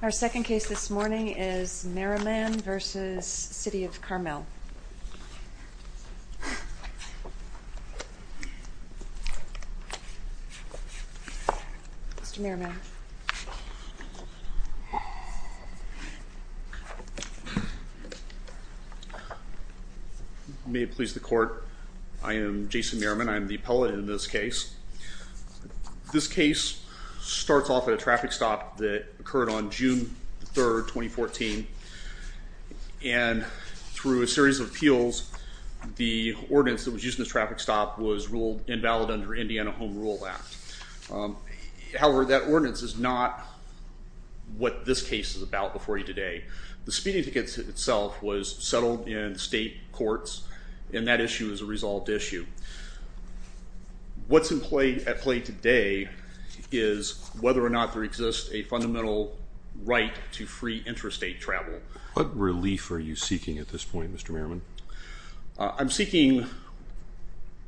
Our second case this morning is Maraman v. City of Carmel. May it please the court, I am Jason Maraman. I'm the appellate in this case. This case starts off at a traffic stop that occurred on June 3rd, 2014 and through a series of appeals, the ordinance that was used in the traffic stop was ruled invalid under Indiana Home Rule Act. However, that ordinance is not what this case is about before you today. The speeding tickets itself was settled in state courts and that issue is a resolved issue. What's at play today is whether or not there exists a fundamental right to free interstate travel. What relief are you seeking at this point, Mr. Maraman? I'm seeking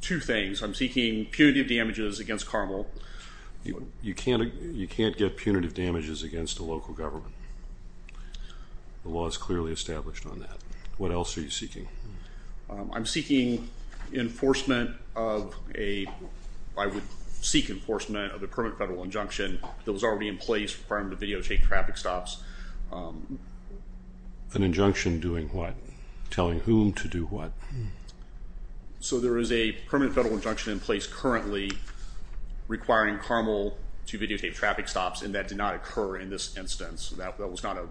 two things. I'm seeking punitive damages against Carmel. You can't get punitive damages against a local government. The law is clearly established on that. What else are you seeking? I'm seeking enforcement of a, I would seek enforcement of the permanent federal injunction that was already in place requiring the videotape traffic stops. An injunction doing what? Telling whom to do what? So there is a permanent federal injunction in place currently requiring Carmel to videotape traffic stops and that did not occur in this instance. That was not a...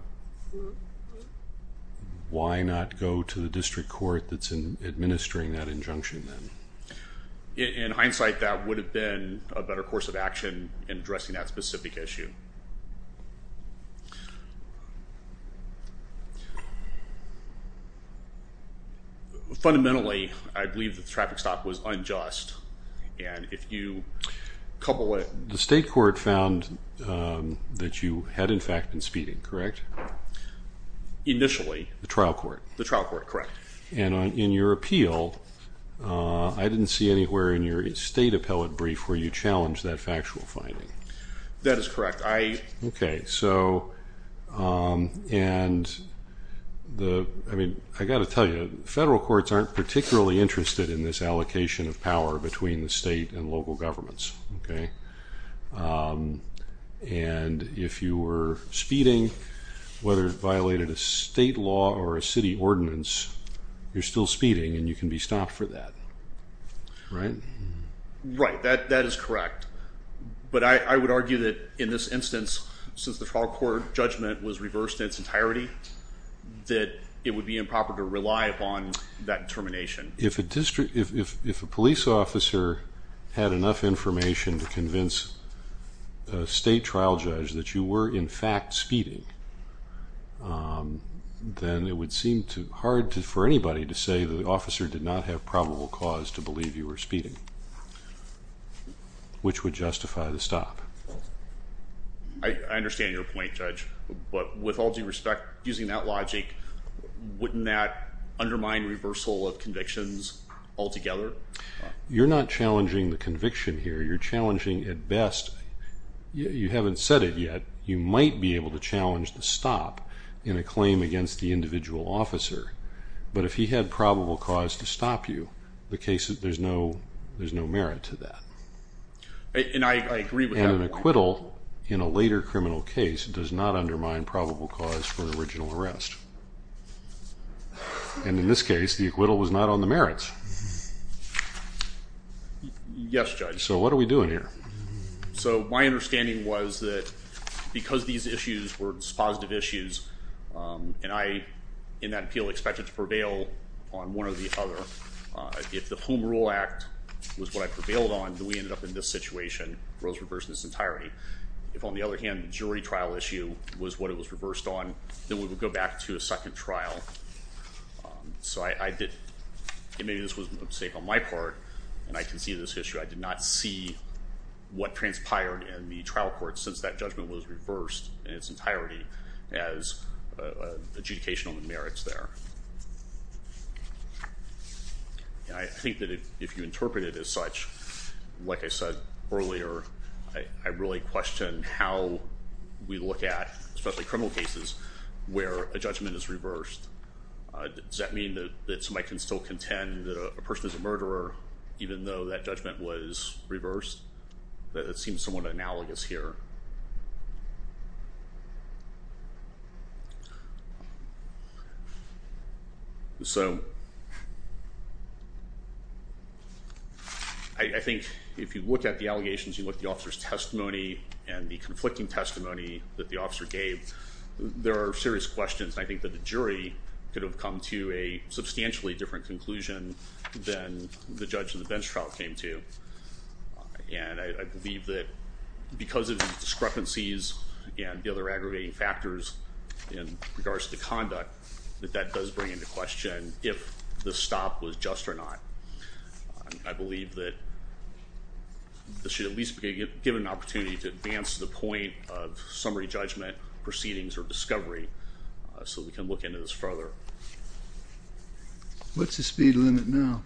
Why not go to the district court that's in administering that injunction then? In hindsight, that would have been a better course of action. Fundamentally, I believe the traffic stop was unjust and if you couple it... The state court found that you had in fact been speeding, correct? Initially. The trial court? The trial court, correct. And in your appeal, I didn't see anywhere in your state appellate brief where you challenged that factual finding. That is correct. Okay, so and the, I mean, I got to tell you, federal courts aren't particularly interested in this allocation of power between the state and local governments, okay? And if you were speeding, whether it violated a state law or a city ordinance, you're still speeding and you can be stopped for that, right? Right, that since the trial court judgment was reversed in its entirety, that it would be improper to rely upon that determination. If a district, if a police officer had enough information to convince a state trial judge that you were in fact speeding, then it would seem too hard for anybody to say that the officer did not have probable cause to believe you were speeding, which would I understand your point, Judge, but with all due respect, using that logic, wouldn't that undermine reversal of convictions altogether? You're not challenging the conviction here, you're challenging at best, you haven't said it yet, you might be able to challenge the stop in a claim against the individual officer, but if he had probable cause to stop you, the case is there's no, there's no merit to that. And I agree with that. And an acquittal in a later criminal case does not undermine probable cause for an original arrest. And in this case, the acquittal was not on the merits. Yes, Judge. So what are we doing here? So my understanding was that because these issues were positive issues, and I in that appeal expected to prevail on one or the other, if the Home Rule Act was what I prevailed on, then we would go back to a second trial. So I did, maybe this was a mistake on my part, and I conceded this issue, I did not see what transpired in the trial court since that judgment was reversed in its entirety as adjudication on the merits there. And I think that if you interpret it as such, like I said earlier, I really question how we look at, especially criminal cases, where a judgment is reversed. Does that mean that somebody can still contend that a person is a murderer, even though that judgment was reversed? That seems somewhat analogous here. So I think if you look at the allegations, you look at the officer's testimony and the conflicting testimony that the officer gave, there are serious questions. I think that the jury could have come to a substantially different conclusion than the judge in the bench trial came to. And I believe that because of discrepancies and the other aggravating factors in regards to the conduct, that that does bring into question if the stop was just or not. I believe that this should at least be given an opportunity to advance to the point of summary judgment proceedings or discovery so we can look into this further. What's the speed limit now?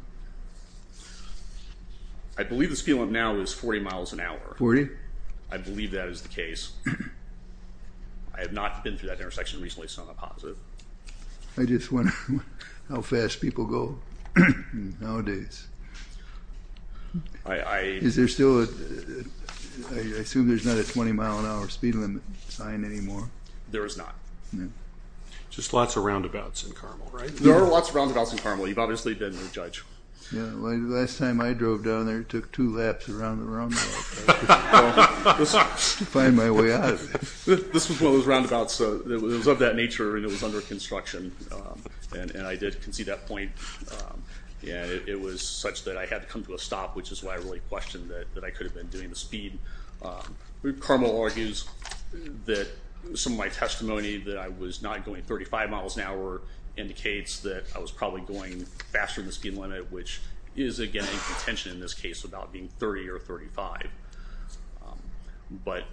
I believe the speed limit now is 40 miles an hour. 40? I believe that is the case. I have not been through that intersection recently, so I'm not positive. I just wonder how fast people go nowadays. Is there still a, I assume there's not a 20 mile an hour speed limit sign anymore? There is not. Just lots of roundabouts in Carmel, right? There are lots of roundabouts in Carmel. You've obviously been there, Judge. Yeah, last time I drove down there took two laps around the roundabout to find my way out. This was one of those roundabouts, it was of that nature and it was under construction and I did concede that point and it was such that I had to come to a stop, which is why I really questioned that I could have been doing the speed. Carmel argues that some of my testimony that I was not going 35 miles an hour indicates that I was probably going faster than the speed limit, which is again a contention in this case about being 30 or 35, but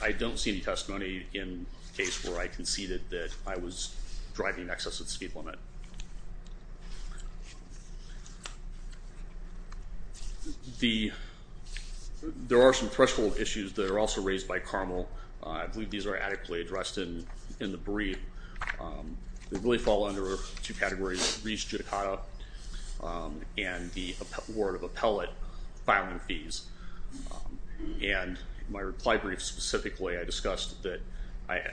I don't see any testimony in case where I conceded that I was driving in excess of the speed limit. The, there are some threshold issues that are also raised by Carmel. I believe these are adequately addressed in the brief. They really fall under two categories, and the award of appellate filing fees, and my reply brief specifically I discussed that I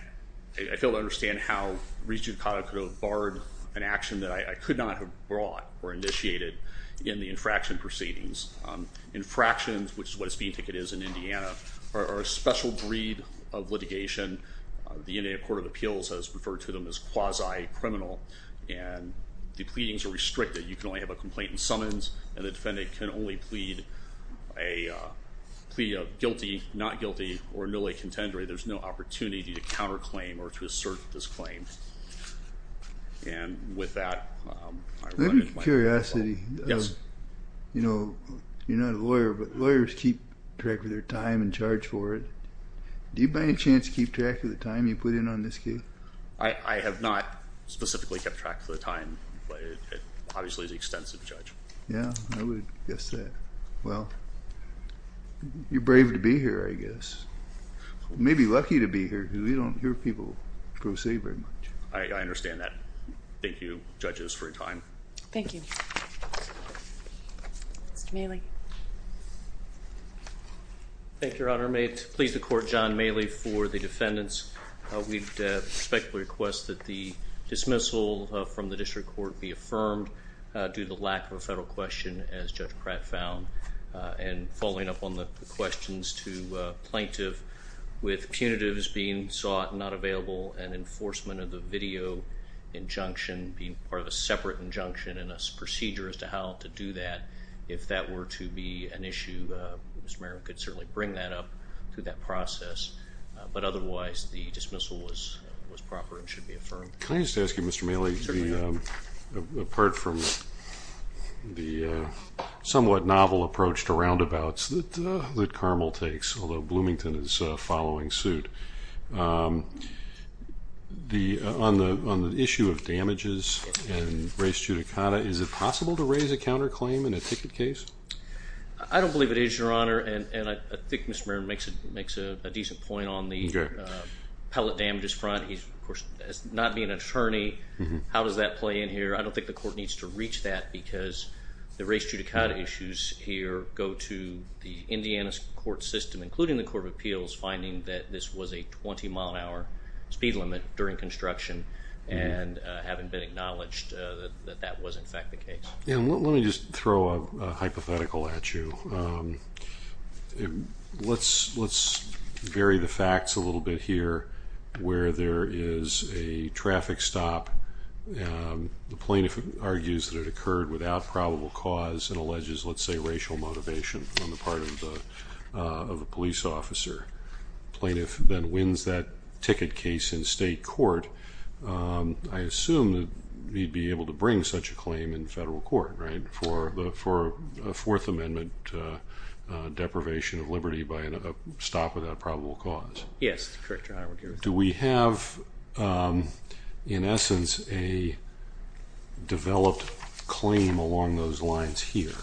failed to understand how re-judicata could have barred an action that I could not have brought or initiated in the infraction proceedings. Infractions, which is what a speed ticket is in Indiana, are a special breed of litigation. The Indiana Court of Appeals has referred to them as quasi-criminal and the pleadings are restricted. You can only have a complaint and summons, and the defendant can only plead a plea of guilty, not guilty, or nulla contendere. There's no opportunity to counterclaim or to assert this claim. And with that, I run into my final point. I have a curiosity. Yes. You know, you're not a lawyer, but lawyers keep track of their time and charge for it. Do you by any chance keep track of the time you put in on this case? I have not specifically kept track of the time, but it obviously is extensive, Judge. Yeah, I would guess that. Well, you're brave to be here, I guess. You may be lucky to be here, because we don't hear people proceed very much. I understand that. Thank you, judges, for your time. Thank you. Mr. Mailey. Thank you, Your Honor. May it please the Court, John Mailey, for the defendants. We'd respectfully request that the dismissal from the District Court be affirmed due to the lack of a federal question, as Judge Pratt found. And following up on the questions to plaintiff, with punitives being sought, not available, and enforcement of the video injunction being part of a separate injunction and a procedure as to how to do that, if that were to be an issue, Mr. Merriman could certainly bring that up through that process. But otherwise, the dismissal was proper and should be affirmed. Can I just ask you, Mr. Mailey, apart from the somewhat novel approach to roundabouts that Carmel takes, although Bloomington is following suit, on the issue of damages and res judicata, is it possible to raise a counterclaim in a ticket case? I don't believe it is, Your Honor. And I think Mr. Merriman makes a decent point on the pellet damages front. He's, of course, not being an attorney. How does that play in here? I don't think the Court needs to reach that because the res judicata issues here go to the Indiana court system, including the Court of Appeals, finding that this was a 20-mile-an-hour speed limit during construction and having been acknowledged that that was, in fact, the case. Let me just throw a hypothetical at you. Let's vary the facts a little bit here where there is a traffic stop. The plaintiff argues that it occurred without probable cause and alleges, let's say, racial motivation on the part of a police officer. The plaintiff then wins that ticket case in state court. I assume that he'd be able to bring such a claim in federal court for a Fourth Amendment deprivation of liberty by a stop without probable cause. Yes, that's correct, Your Honor. Do we have, in essence, a developed claim along those lines here?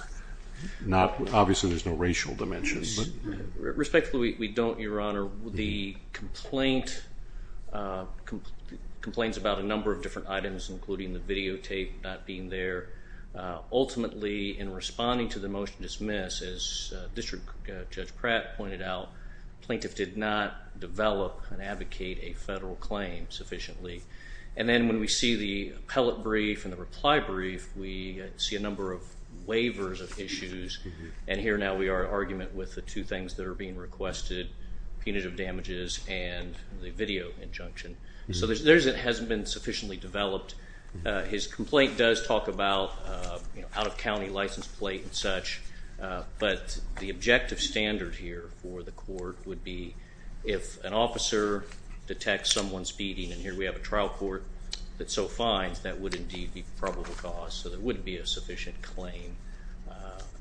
Obviously, there's no racial dimensions. Respectfully, we don't, Your Honor. The complaint complains about a number of different items, including the videotape not being there. Ultimately, in responding to the motion to dismiss, as District Judge Pratt pointed out, the plaintiff did not develop and advocate a federal claim sufficiently. And then when we see the appellate brief and the reply brief, we see a number of waivers of issues. And here now we are at argument with the two things that are being requested, punitive damages and the video injunction. So there hasn't been sufficiently developed. His complaint does talk about out-of-county license plate and such. But the objective standard here for the court would be if an officer detects someone's beating, and here we have a trial court that so finds, that would indeed be probable cause. So there wouldn't be a sufficient claim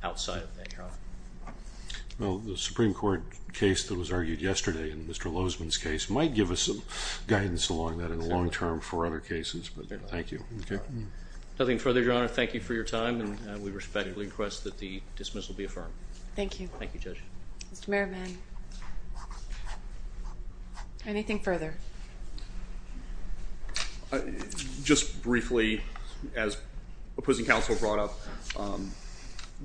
outside of that, Your Honor. Well, the Supreme Court case that was argued yesterday in Mr. Lozman's case might give us some guidance along that in the long term for other cases, but thank you. Nothing further, Your Honor. Thank you for your time, and we respectfully request that the dismissal be affirmed. Thank you. Thank you, Judge. Mr. Merriman, anything further? Just briefly, as opposing counsel brought up,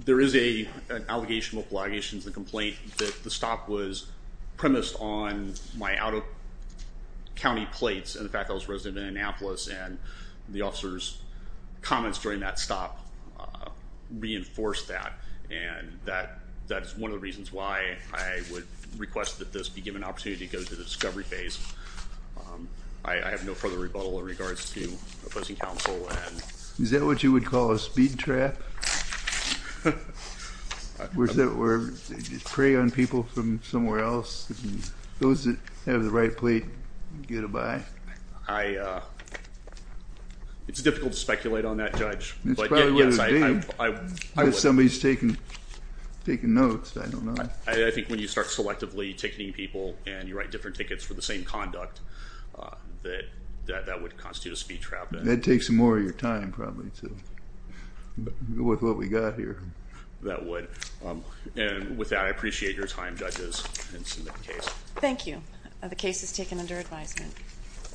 there is an allegation, multiple allegations, in the complaint that the stop was premised on my out-of-county plates and the fact that I was resident of Minneapolis, and the officer's comments during that stop reinforced that. And that is one of the reasons why I would request that this be given an opportunity to go to the discovery phase. I have no further rebuttal in regards to opposing counsel. Is that what you would call a speed trap? Or is that where you prey on people from somewhere else, and those that have the right plate get a bye? It's difficult to speculate on that, Judge. It's probably the date. If somebody's taking notes, I don't know. I think when you start selectively ticketing people and you write different tickets for the same conduct, that that would constitute a speed trap. That would take some more of your time, probably, with what we've got here. That would. With that, I appreciate your time, Judges, and submit the case. Thank you. The case is taken under advisement.